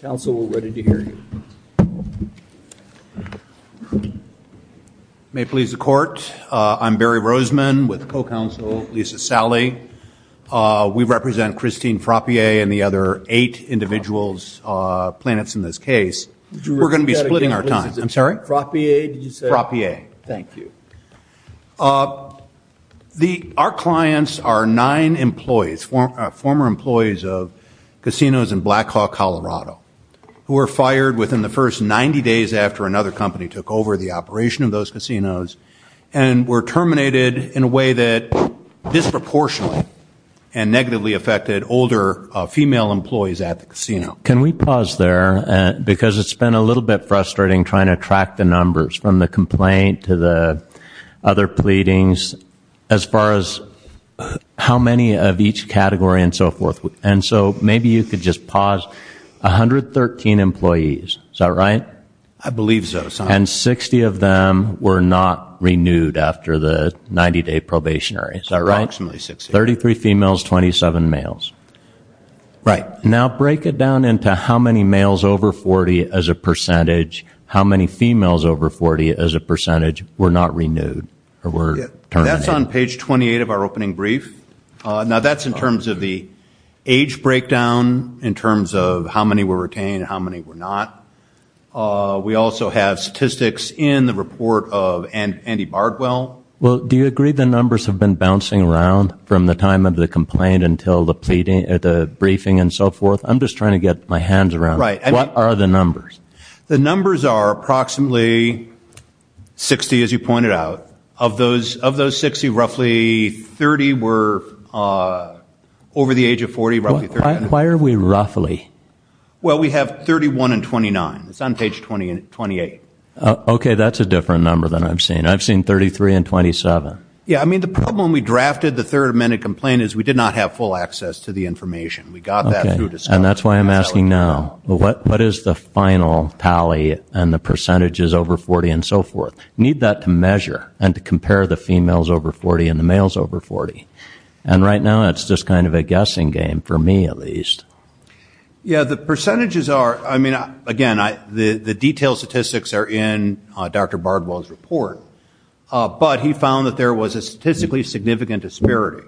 Council we're ready to hear you. May it please the court, I'm Barry Roseman with co-counsel Lisa Sally. We represent Christine Frappier and the other eight individuals, planets in this case. We're going to be splitting our time. I'm sorry? Frappier? Frappier. Thank you. Our clients are nine employees, former employees of casinos in Black Hawk, Colorado, who were fired within the first 90 days after another company took over the operation of those casinos and were terminated in a way that disproportionately and negatively affected older female employees at the casino. Can we pause there because it's been a little bit frustrating trying to track the numbers from the complaint to the other pleadings as far as how many of each category and so forth. And so maybe you could just pause. 113 employees, is that right? I believe so. And 60 of them were not renewed after the 90-day probationary. Is that right? Approximately 60. 33 females, 27 males. Right. Now break it down into how many males over 40 as a were not renewed or were terminated. That's on page 28 of our opening brief. Now that's in terms of the age breakdown, in terms of how many were retained, how many were not. We also have statistics in the report of Andy Bardwell. Well do you agree the numbers have been bouncing around from the time of the complaint until the pleading at the briefing and so forth? I'm just trying to get my hands around. What are the numbers? The numbers are approximately 60 as you pointed out. Of those 60, roughly 30 were over the age of 40. Why are we roughly? Well we have 31 and 29. It's on page 28. Okay that's a different number than I've seen. I've seen 33 and 27. Yeah I mean the problem we drafted the Third Amendment complaint is we did not have full access to the information. We got that through I'm asking now what what is the final tally and the percentages over 40 and so forth? Need that to measure and to compare the females over 40 and the males over 40. And right now it's just kind of a guessing game for me at least. Yeah the percentages are I mean again I the the detailed statistics are in Dr. Bardwell's report but he found that there was a statistically significant disparity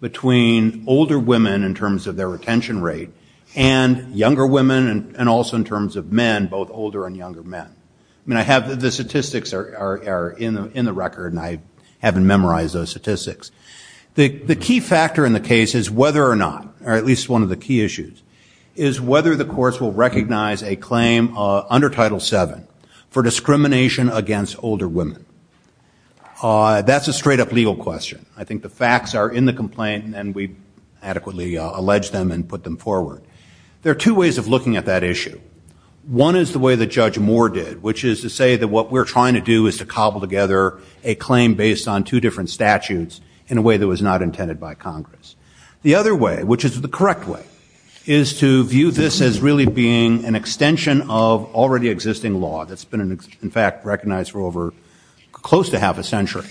between older women in terms of their retention rate and younger women and also in terms of men both older and younger men. I mean I have the statistics are in the record and I haven't memorized those statistics. The the key factor in the case is whether or not or at least one of the key issues is whether the courts will recognize a claim under Title VII for discrimination against older women. That's a straight-up legal question. I think the facts are in the complaint and we adequately allege them and put them forward. There are two ways of looking at that issue. One is the way that Judge Moore did which is to say that what we're trying to do is to cobble together a claim based on two different statutes in a way that was not intended by Congress. The other way which is the correct way is to view this as really being an extension of already existing law that's been in fact recognized for over close to half a century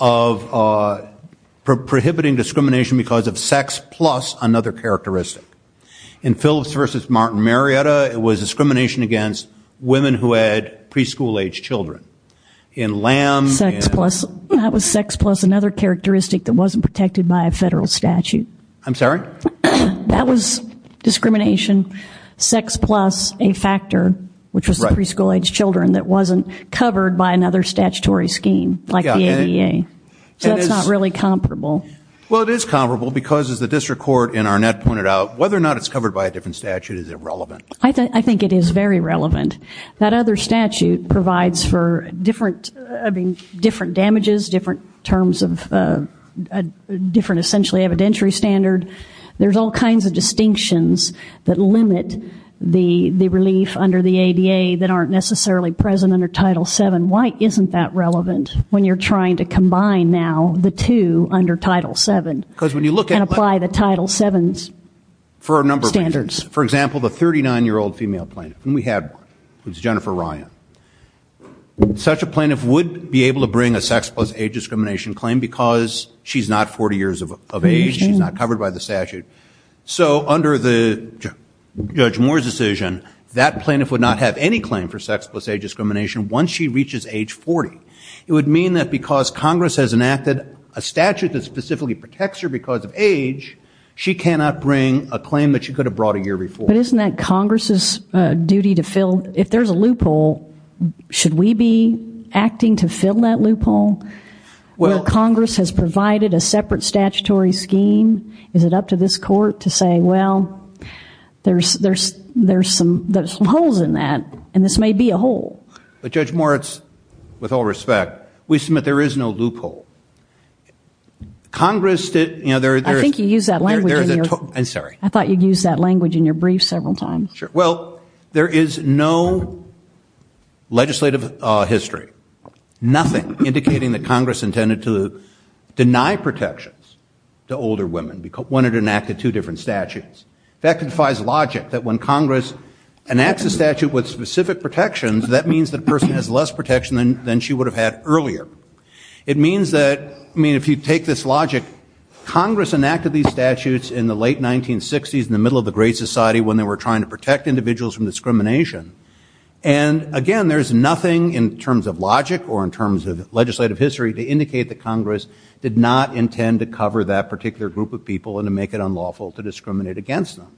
of prohibiting discrimination because of sex plus another characteristic. In Phillips versus Martin Marietta it was discrimination against women who had preschool age children. In Lamb. That was sex plus another characteristic that wasn't protected by a federal statute. I'm sorry? That was discrimination sex plus a covered by another statutory scheme like the ADA. So that's not really comparable. Well it is comparable because as the district court in Arnett pointed out whether or not it's covered by a different statute is irrelevant. I think it is very relevant. That other statute provides for different I mean different damages, different terms of a different essentially evidentiary standard. There's all kinds of distinctions that limit the relief under the ADA that aren't necessarily present under Title VII. Why isn't that relevant when you're trying to combine now the two under Title VII? Because when you look at apply the Title VII's for a number of standards. For example the 39 year old female plaintiff and we had was Jennifer Ryan. Such a plaintiff would be able to bring a sex plus age discrimination claim because she's not 40 years of age. She's not covered by the statute. So under the Judge Moore's decision that plaintiff would not have any claim for sex plus age discrimination once she reaches age 40. It would mean that because Congress has enacted a statute that specifically protects her because of age she cannot bring a claim that she could have brought a year before. But isn't that Congress's duty to fill? If there's a loophole should we be acting to fill that loophole? Well Congress has provided a separate statutory scheme. Is it up to this court to say well there's there's there's some there's holes in that and this may be a hole. But Judge Moritz with all respect we submit there is no loophole. Congress did you know. I think you used that language. I'm sorry. I thought you'd use that language in your brief several times. Well there is no legislative history. Nothing indicating that Congress intended to deny protections to older women because when it enacted two different statutes. That defies logic that when Congress enacts a statute with specific protections that means that person has less protection than she would have had earlier. It means that I mean if you take this logic Congress enacted these statutes in the late 1960s in the middle of the Great Society when they were trying to protect individuals from discrimination. And again there's nothing in terms of logic or in terms of legislative history to indicate that Congress did not intend to cover that particular group of people and to make it unlawful to discriminate against them.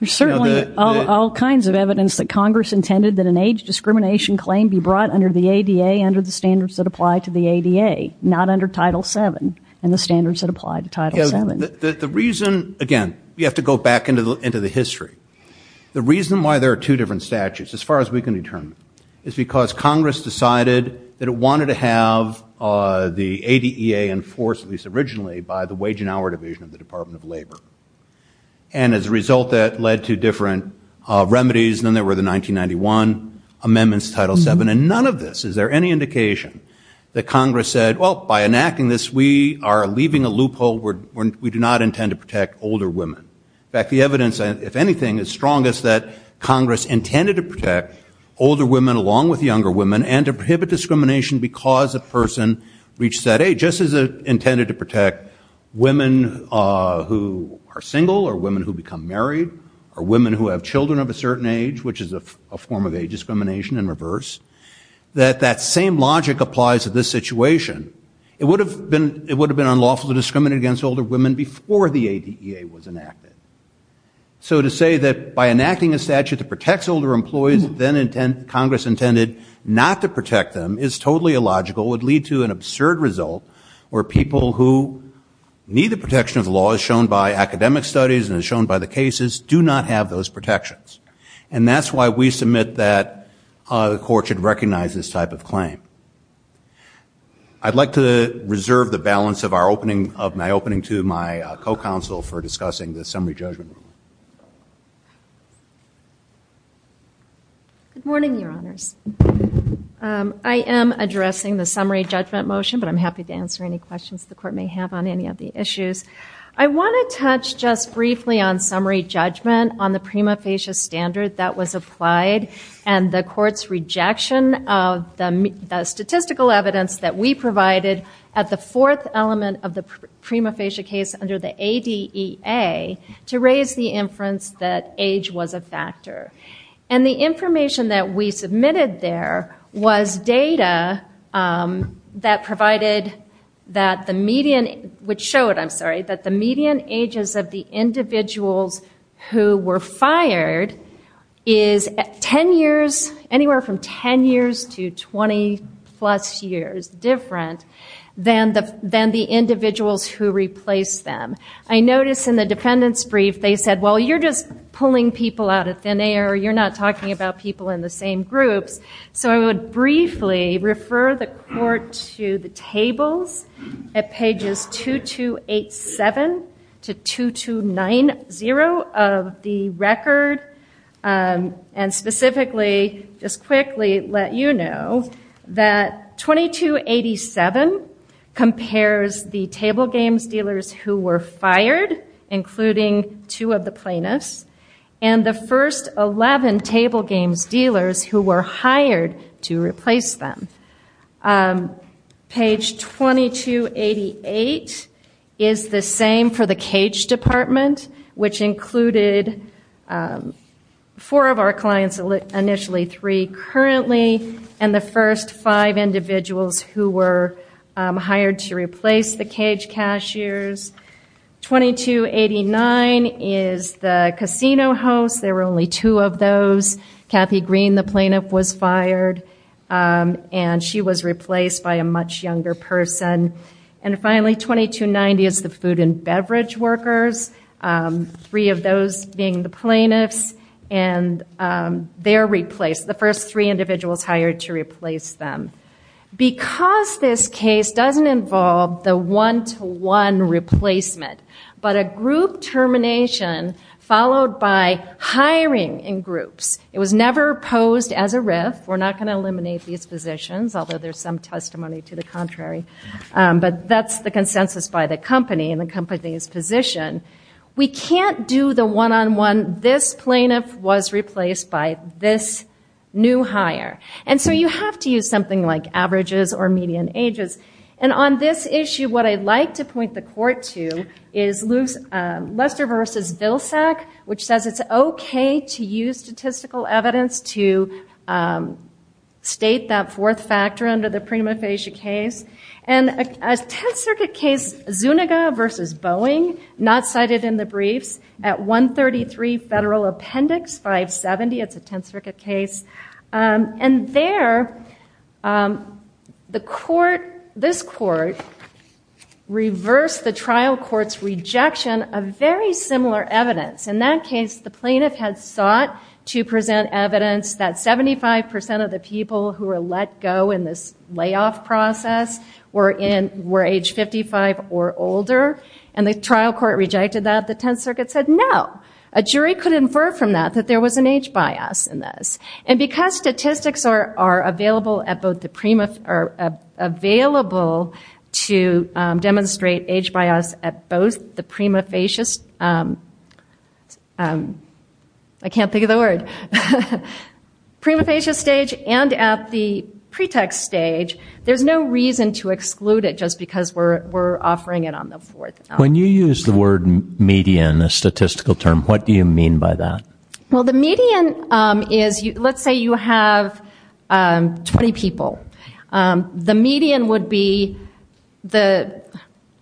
There's certainly all kinds of evidence that Congress intended that an age discrimination claim be brought under the ADA under the standards that apply to the ADA not under Title 7 and the standards that apply to Title 7. The reason again you have to go back into the into the history. The reason why there are two different statutes as far as we can determine is because Congress decided that it wanted to have the ADEA enforced at least originally by the Wage and Hour Division of the Department of Labor. And as a result that led to different remedies then there were the 1991 amendments to Title 7 and none of this is there any indication that Congress said well by enacting this we are leaving a loophole where we do not intend to protect older women. In fact the evidence if anything is strongest that Congress intended to protect older women along with younger women and to prohibit discrimination because a person reached that age just as a intended to protect women who are single or women who become married or women who have children of a certain age which is a form of age discrimination in reverse. That that same logic applies to this situation. It would have been it would have been unlawful to discriminate against older women before the ADEA was enacted. So to say that by enacting a statute that protects older employees then intent Congress intended not to absurd result where people who need the protection of law as shown by academic studies and as shown by the cases do not have those protections. And that's why we submit that the court should recognize this type of claim. I'd like to reserve the balance of our opening of my opening to my co-counsel for discussing the summary judgment. Good morning your honors. I am addressing the summary judgment motion but I'm happy to answer any questions the court may have on any of the issues. I want to touch just briefly on summary judgment on the prima facie standard that was applied and the court's rejection of the statistical evidence that we provided at the fourth element of the prima facie case under the ADEA to raise the inference that age was a factor. And the provided that the median, which showed I'm sorry, that the median ages of the individuals who were fired is 10 years, anywhere from 10 years to 20 plus years different than the individuals who replaced them. I notice in the defendant's brief they said well you're just pulling people out of thin air you're not talking about people in the same groups. So I would briefly refer the tables at pages 2287 to 2290 of the record and specifically just quickly let you know that 2287 compares the table games dealers who were fired including two of the plaintiffs and the first 11 table games dealers who were hired to Page 2288 is the same for the cage department which included four of our clients, initially three currently, and the first five individuals who were hired to replace the cage cashiers. 2289 is the casino hosts there were only two of those. Kathy Green the plaintiff was fired and she was replaced by a much younger person. And finally 2290 is the food and beverage workers, three of those being the plaintiffs and they're replaced, the first three individuals hired to replace them. Because this case doesn't involve the one-to-one replacement but a group termination followed by hiring in groups. It was never posed as a RIF. We're not going to eliminate these positions although there's some testimony to the contrary but that's the consensus by the company and the company's position. We can't do the one-on-one this plaintiff was replaced by this new hire and so you have to use something like averages or median ages. And on this issue what I'd like to point the court to is Lester versus Vilsack which says it's okay to use statistical evidence to state that fourth factor under the prima facie case. And a Tenth Circuit case Zuniga versus Boeing not cited in the briefs at 133 Federal Appendix 570 it's a Tenth Circuit case. This court reversed the trial court's rejection of very similar evidence. In that case the plaintiff had sought to present evidence that 75% of the people who were let go in this layoff process were age 55 or older and the trial court rejected that. The Tenth Circuit said no. A jury could infer from that that there was an age bias in this. And because statistics are available at both the prima are available to demonstrate age bias at both the prima facies I can't think of the word prima facies stage and at the pretext stage there's no reason to exclude it just because we're we're offering it on the fourth. When you use the word median a statistical term what do you mean by that? Well the median is you let's say you have 20 people the median would be the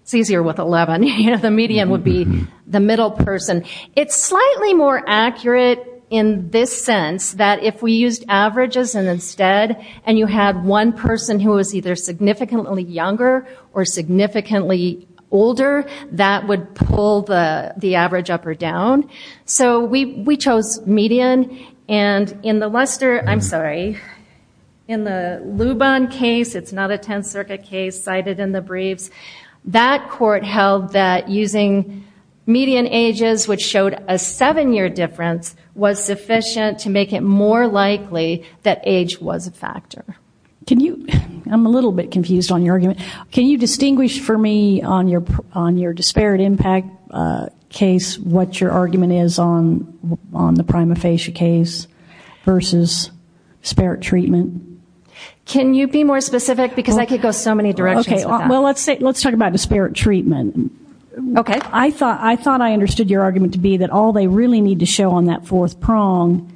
it's easier with 11 you know the median would be the middle person. It's slightly more accurate in this sense that if we used averages and instead and you had one person who was either significantly younger or So we chose median and in the Lester I'm sorry in the Luban case it's not a Tenth Circuit case cited in the briefs that court held that using median ages which showed a seven-year difference was sufficient to make it more likely that age was a factor. Can you I'm a little bit confused on your argument can you distinguish for me on your on your disparate impact case what your argument is on on the prima facie case versus spirit treatment? Can you be more specific because I could go so many directions. Okay well let's say let's talk about disparate treatment. Okay. I thought I thought I understood your argument to be that all they really need to show on that fourth prong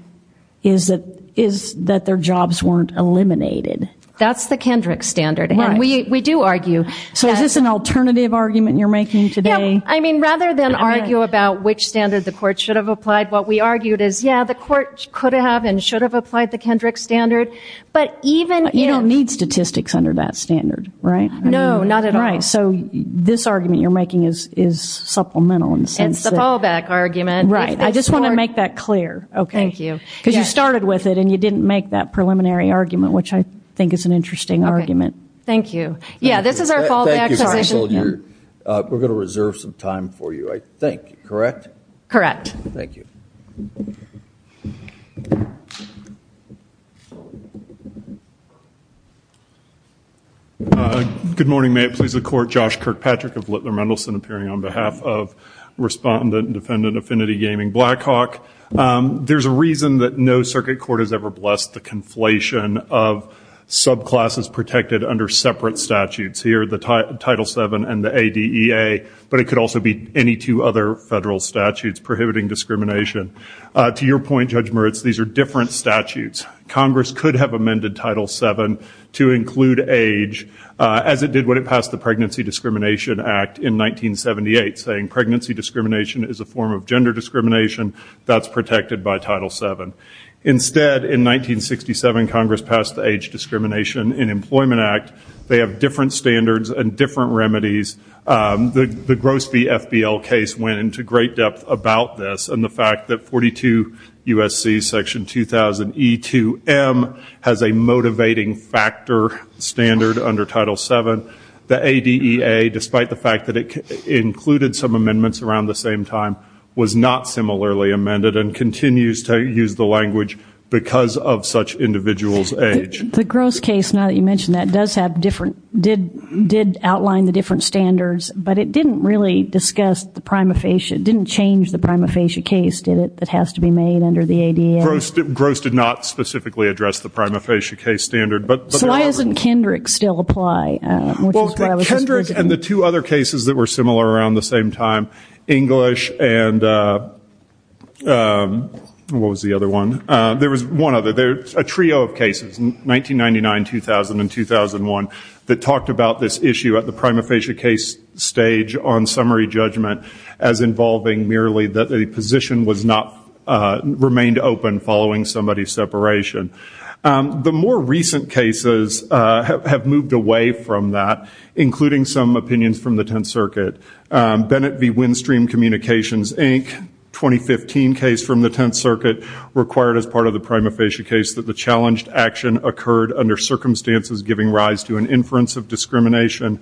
is that is that their jobs weren't eliminated. That's the Kendrick standard and we we do argue. So is this an alternative argument you're making today? I mean rather than argue about which standard the court should have applied what we argued is yeah the court could have and should have applied the Kendrick standard but even you don't need statistics under that standard right? No not at all. Right so this argument you're making is is supplemental in the sense that. It's the fallback argument. Right I just want to make that clear. Okay. Thank you. Because you started with it and you didn't make that preliminary argument which I think is an interesting argument. Thank you. Yeah this is our time for you I think. Correct? Correct. Thank you. Good morning may it please the court Josh Kirkpatrick of Littler Mendelsohn appearing on behalf of respondent and defendant Affinity Gaming Blackhawk. There's a reason that no circuit court has ever blessed the conflation of subclasses protected under separate statutes. Here the title 7 and the ADEA but it could also be any two other federal statutes prohibiting discrimination. To your point Judge Moritz these are different statutes. Congress could have amended title 7 to include age as it did when it passed the Pregnancy Discrimination Act in 1978 saying pregnancy discrimination is a form of gender discrimination that's protected by title 7. Instead in 1967 Congress passed the Age Discrimination in Employment Act. They have different standards and different remedies. The Grossby FBL case went into great depth about this and the fact that 42 USC section 2000 e2m has a motivating factor standard under title 7. The ADEA despite the fact that it included some amendments around the same time was not similarly amended and continues to use the language because of such individual's age. The Gross case now that you mentioned that does have different did did outline the different standards but it didn't really discuss the prima facie it didn't change the prima facie case did it that has to be made under the ADEA? Gross did not specifically address the prima facie case standard but. So why doesn't Kendrick still apply? Kendrick and the two other cases that were similar around the same time English and what was the other one there was one other there's a trio of cases in 1999 2000 and 2001 that talked about this issue at the prima facie case stage on summary judgment as involving merely that the position was not remained open following somebody's separation. The more recent cases have moved away from that including some opinions from the Tenth Circuit. Bennett v. Windstream Communications Inc. 2015 case from the Tenth Circuit required as part of the prima facie case that the challenged action occurred under circumstances giving rise to an inference of discrimination.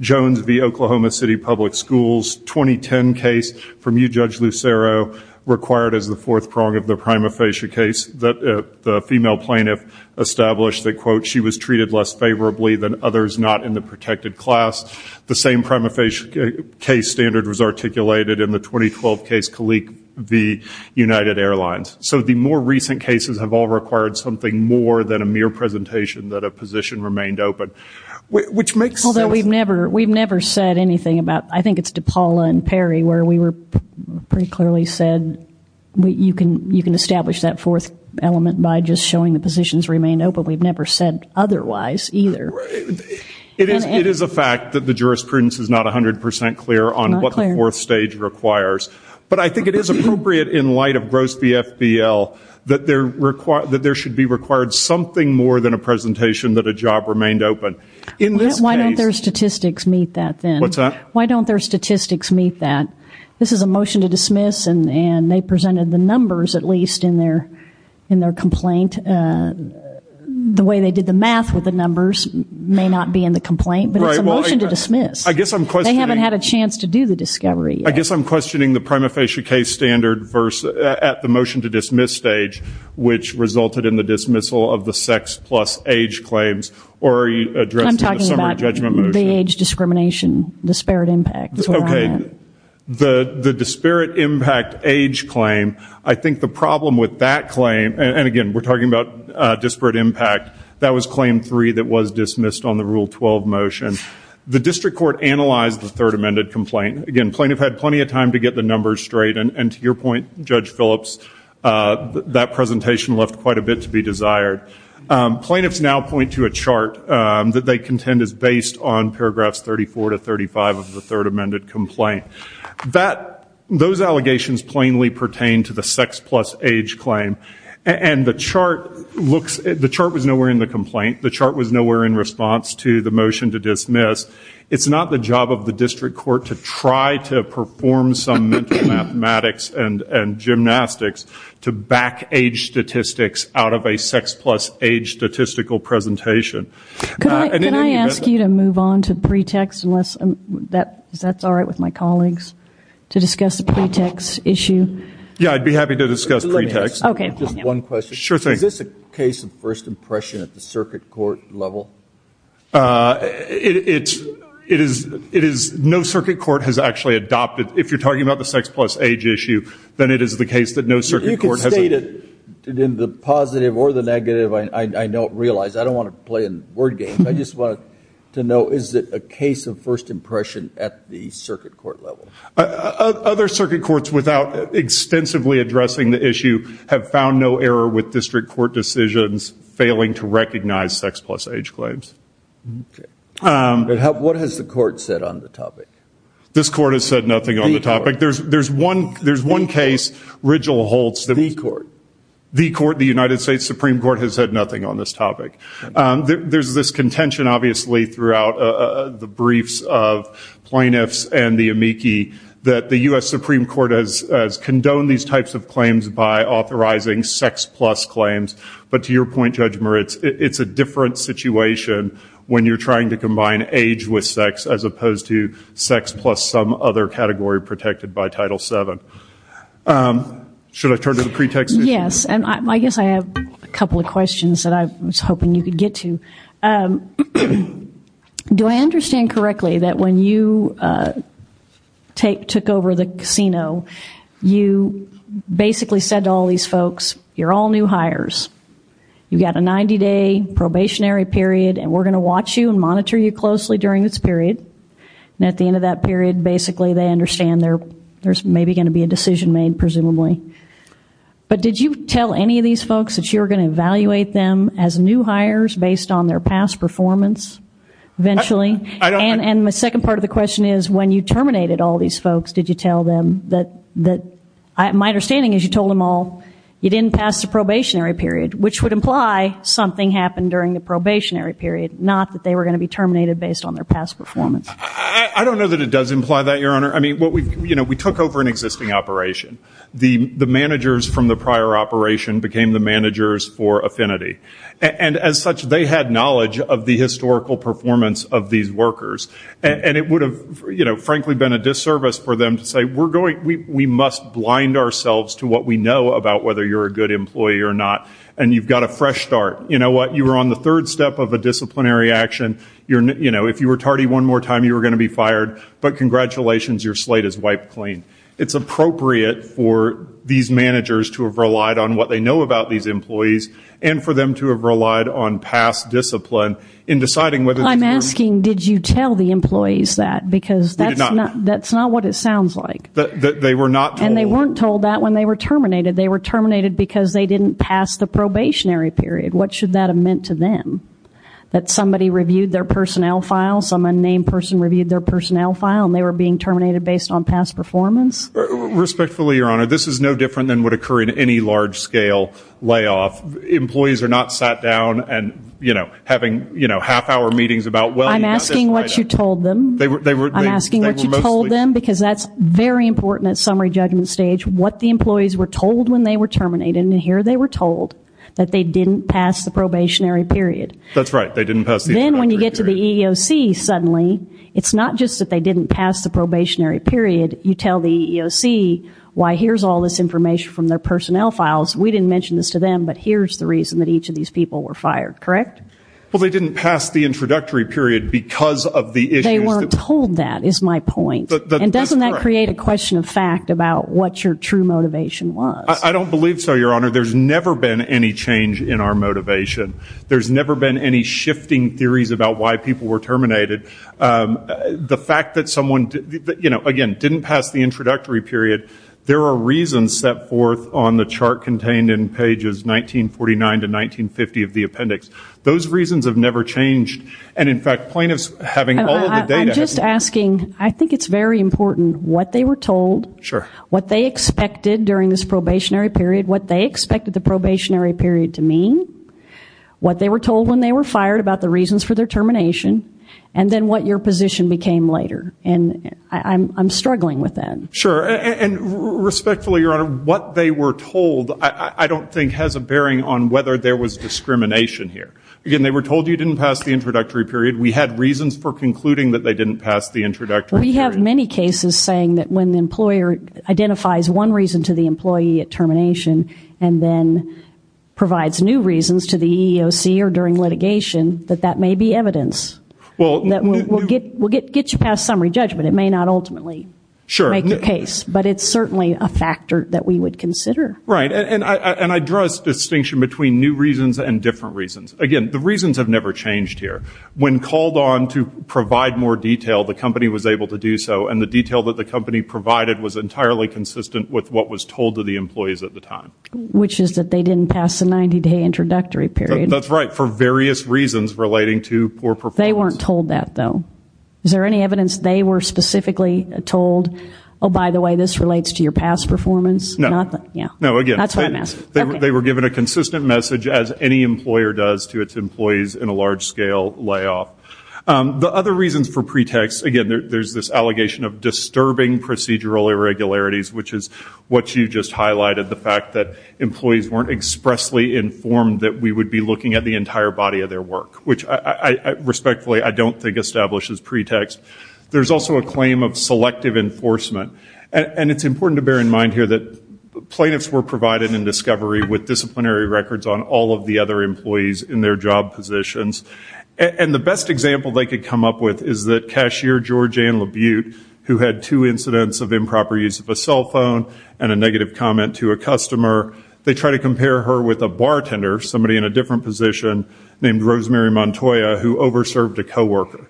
Jones v. Oklahoma City Public Schools 2010 case from you Judge Lucero required as the fourth prong of the prima facie case that the female plaintiff established that quote she was treated less favorably than others not in the protected class. The same prima facie case standard was articulated in the 2012 case Kalik v. United Airlines. So the more recent cases have all required something more than a mere presentation that a position remained open which makes sense. Although we've never we've never said anything about I think it's DePaula and Perry where we were pretty clearly said you can you can establish that fourth element by just showing the positions remain open we've never said otherwise either. It is a fact that the fourth stage requires but I think it is appropriate in light of gross v. FBL that there should be required something more than a presentation that a job remained open. Why don't their statistics meet that then? What's that? Why don't their statistics meet that? This is a motion to dismiss and and they presented the numbers at least in their in their complaint. The way they did the math with the numbers may not be in the complaint but it's a motion to dismiss. I guess I'm questioning. They haven't had a chance to do the discovery. I guess I'm questioning the prima facie case standard verse at the motion to dismiss stage which resulted in the dismissal of the sex plus age claims or are you addressing the summer judgment motion? I'm talking about the age discrimination, disparate impact. Okay the the disparate impact age claim I think the problem with that claim and again we're talking about disparate impact that was claim three that was dismissed on the rule 12 motion. The district court analyzed the third amended complaint. Again plaintiff had plenty of time to get the numbers straight and to your point Judge Phillips that presentation left quite a bit to be desired. Plaintiffs now point to a chart that they contend is based on paragraphs 34 to 35 of the third amended complaint. That those allegations plainly pertain to the sex plus age claim and the chart looks the chart was nowhere in the complaint. The motion to dismiss it's not the job of the district court to try to perform some mathematics and and gymnastics to back age statistics out of a sex plus age statistical presentation. Can I ask you to move on to pretext unless that that's all right with my colleagues to discuss the pretext issue? Yeah I'd be happy to discuss pretext. Okay just one question. Sure thing. Is this a case of first impression at the circuit court level? It is no circuit court has actually adopted if you're talking about the sex plus age issue then it is the case that no circuit court has. You can state it in the positive or the negative I don't realize. I don't want to play in word games. I just want to know is it a case of first impression at the circuit court level? Other circuit courts without extensively addressing the issue have found no error with district court decisions failing to recognize sex plus age claims. What has the court said on the topic? This court has said nothing on the topic. There's there's one there's one case Rigel holds. The court? The court the United States Supreme Court has said nothing on this topic. There's this contention obviously throughout the briefs of plaintiffs and the amici that the US Supreme Court has condoned these types of claims by authorizing sex plus claims but to your point Judge Moritz it's a different situation when you're trying to combine age with sex as opposed to sex plus some other category protected by Title VII. Should I turn to the pretext? Yes and I guess I have a couple of questions that I was hoping you could get to. Do I understand correctly that when you take took over the casino you basically said to all these folks you're all new hires you've got a 90-day probationary period and we're gonna watch you and monitor you closely during this period and at the end of that period basically they understand there there's maybe going to be a decision made presumably but did you tell any of these folks that you're gonna evaluate them as new hires based on their past performance eventually and and my second part of the question is when you terminated all these folks did you tell them that that my understanding is you told them all you didn't pass the probationary period which would imply something happened during the probationary period not that they were going to be terminated based on their past performance. I don't know that it does imply that your honor I mean what we you know we took over an existing operation the the managers from the prior operation became the managers for affinity and as such they had knowledge of the historical performance of these workers and it would have you know frankly been a disservice for them to say we're going we must blind ourselves to what we know about whether you're a good employee or not and you've got a fresh start you know what you were on the third step of a disciplinary action you're you know if you were tardy one more time you were going to be fired but congratulations your slate is wiped clean. It's appropriate for these managers to have relied on what they know about these employees and for them to have relied on past discipline in deciding whether I'm asking did you tell the employees that because that's not that's not what it sounds like that they were not and they weren't told that when they were terminated they were terminated because they didn't pass the probationary period what should that have meant to them that somebody reviewed their personnel file some unnamed person reviewed their personnel file and they were being terminated based on past performance respectfully your honor this is no different than would occur in any large-scale layoff employees are not sat down and you know having you know half-hour meetings about well I'm asking what you told them they were they were I'm asking what you told them because that's very important at summary judgment stage what the employees were told when they were terminated and here they were told that they didn't pass the probationary period that's right they didn't pass then when you get to the EEOC suddenly it's not just that they didn't pass the probationary period you tell the EEOC why here's all this information from their personnel files we didn't mention this to them but here's the reason that each of these people were fired correct well they didn't pass the introductory period because of the issue they weren't told that is my point and doesn't that create a question of fact about what your true motivation was I don't believe so your honor there's never been any change in our motivation there's never been any shifting theories about why people were terminated the fact that someone did you know again didn't pass the introductory period there are reasons set forth on the appendix those reasons have never changed and in fact plaintiffs having all the data just asking I think it's very important what they were told sure what they expected during this probationary period what they expected the probationary period to mean what they were told when they were fired about the reasons for their termination and then what your position became later and I'm struggling with that sure and respectfully your honor what they were told I don't think has a bearing on whether there was discrimination here again they were told you didn't pass the introductory period we had reasons for concluding that they didn't pass the introductory we have many cases saying that when the employer identifies one reason to the employee at termination and then provides new reasons to the EEOC or during litigation that that may be evidence well that we'll get we'll get get you past summary judgment it may not ultimately sure make the case but it's certainly a factor that we would consider right and I and I dress distinction between new reasons and different reasons again the reasons have never changed here when called on to provide more detail the company was able to do so and the detail that the company provided was entirely consistent with what was told to the employees at the time which is that they didn't pass the 90-day introductory period that's right for various reasons relating to poor they weren't told that though is there any evidence they were specifically told oh by the way this relates to your past performance nothing yeah no again that's what I'm asking they were given a consistent message as any employer does to its employees in a large-scale layoff the other reasons for pretext again there's this allegation of disturbing procedural irregularities which is what you just highlighted the fact that employees weren't expressly informed that we would be looking at the entire body of their work which I respectfully I don't think establishes pretext there's also a claim of selective enforcement and it's important to bear in mind here that plaintiffs were provided in discovery with disciplinary records on all of the other employees in their job positions and the best example they could come up with is that cashier George and labute who had two incidents of improper use of a cell phone and a negative comment to a customer they try to compare her with a bartender somebody in a different position named Rosemary Montoya who over served a co-worker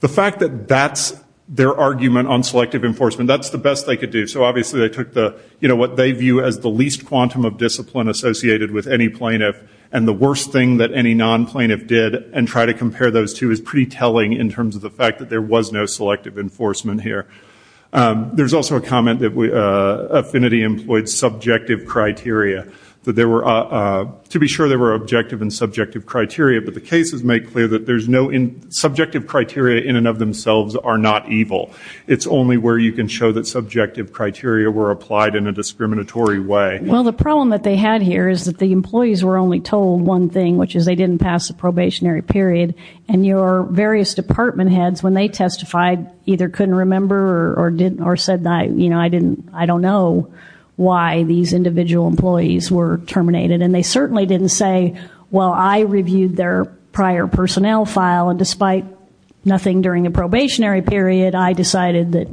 the fact that that's their argument on selective enforcement that's the best they could do so obviously they took the you know what they view as the least quantum of discipline associated with any plaintiff and the worst thing that any non plaintiff did and try to compare those two is pretty telling in terms of the fact that there was no selective enforcement here there's also a comment that we affinity employed subjective criteria that there were to be sure they were objective and subjective criteria but the cases make clear that there's no in subjective criteria in and of themselves are not evil it's only where you can show that subjective criteria were applied in a discriminatory way well the problem that they had here is that the employees were only told one thing which is they didn't pass the probationary period and your various department heads when they testified either couldn't remember or didn't or said that you know I didn't I don't know why these individual employees were terminated and they certainly didn't say well I reviewed their prior personnel file and despite nothing during a probationary period I decided that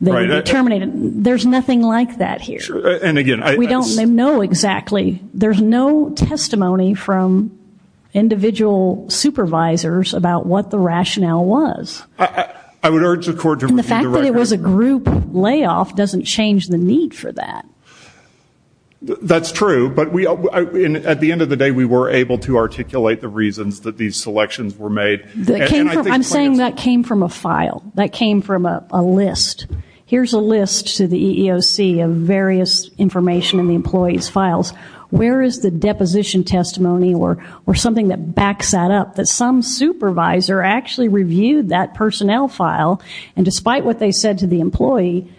there's nothing like that here and again I don't know exactly there's no testimony from individual supervisors about what the rationale was I would urge the court in the fact that it was a group layoff doesn't change the need for that that's true but we at the end of the day we were able to articulate the reasons that these selections were made I'm saying that came from a file that came from a list here's a list to the EEOC of various information in the employees files where is the deposition testimony or or something that backs that up that some supervisor actually reviewed that personnel file and despite what they said to the employee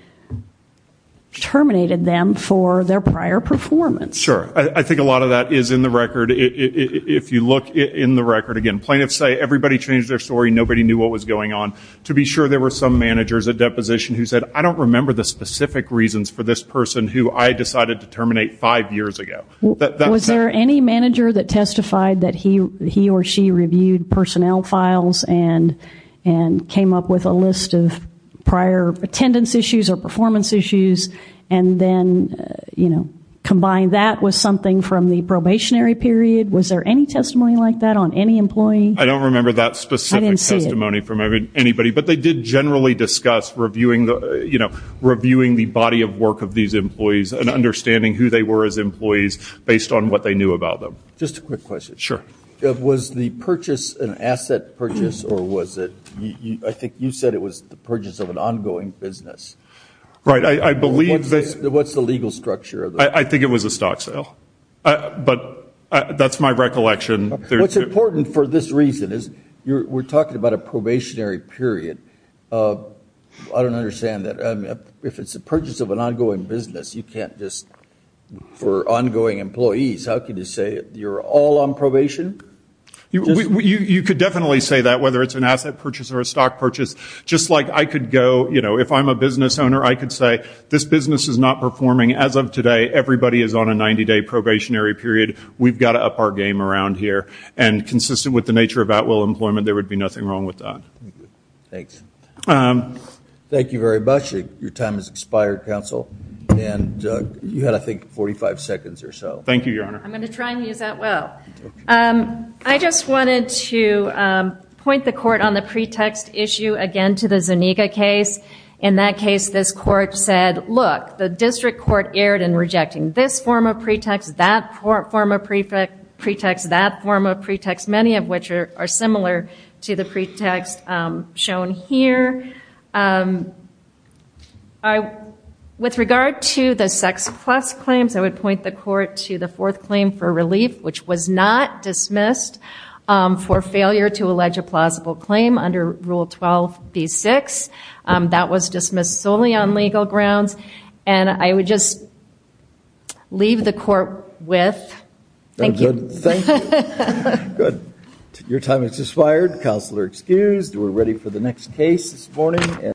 terminated them for their prior performance sure I think a lot of that is in the record if you look in the record again plaintiffs say everybody changed their story nobody knew what was going on to be sure there were some managers a deposition who said I don't remember the specific reasons for this person who I decided to terminate five years ago was there any manager that testified that he he or she reviewed personnel files and and came up with a list of prior attendance issues or performance issues and then you know period was there any testimony like that on any employee I don't remember that specific testimony from everybody but they did generally discuss reviewing the you know reviewing the body of work of these employees and understanding who they were as employees based on what they knew about them just a quick question sure it was the purchase an asset purchase or was it I think you said it was the purchase of an ongoing business right I believe this what's the structure I think it was a stock sale but that's my recollection what's important for this reason is you're talking about a probationary period I don't understand that if it's a purchase of an ongoing business you can't just for ongoing employees how can you say you're all on probation you could definitely say that whether it's an asset purchase or a stock purchase just like I could go you know if I'm a business owner I could say this business is not performing as of today everybody is on a 90-day probationary period we've got to up our game around here and consistent with the nature of at-will employment there would be nothing wrong with that thanks thank you very much your time is expired counsel and you had I think 45 seconds or so thank you your honor I'm gonna try and use that well I just wanted to point the court on the district court erred in rejecting this form of pretext that form of prefect pretext that form of pretext many of which are similar to the pretext shown here I with regard to the sex plus claims I would point the court to the fourth claim for relief which was not dismissed for failure to allege a I would just leave the court with your time it's expired counselor excused we're ready for the next case this morning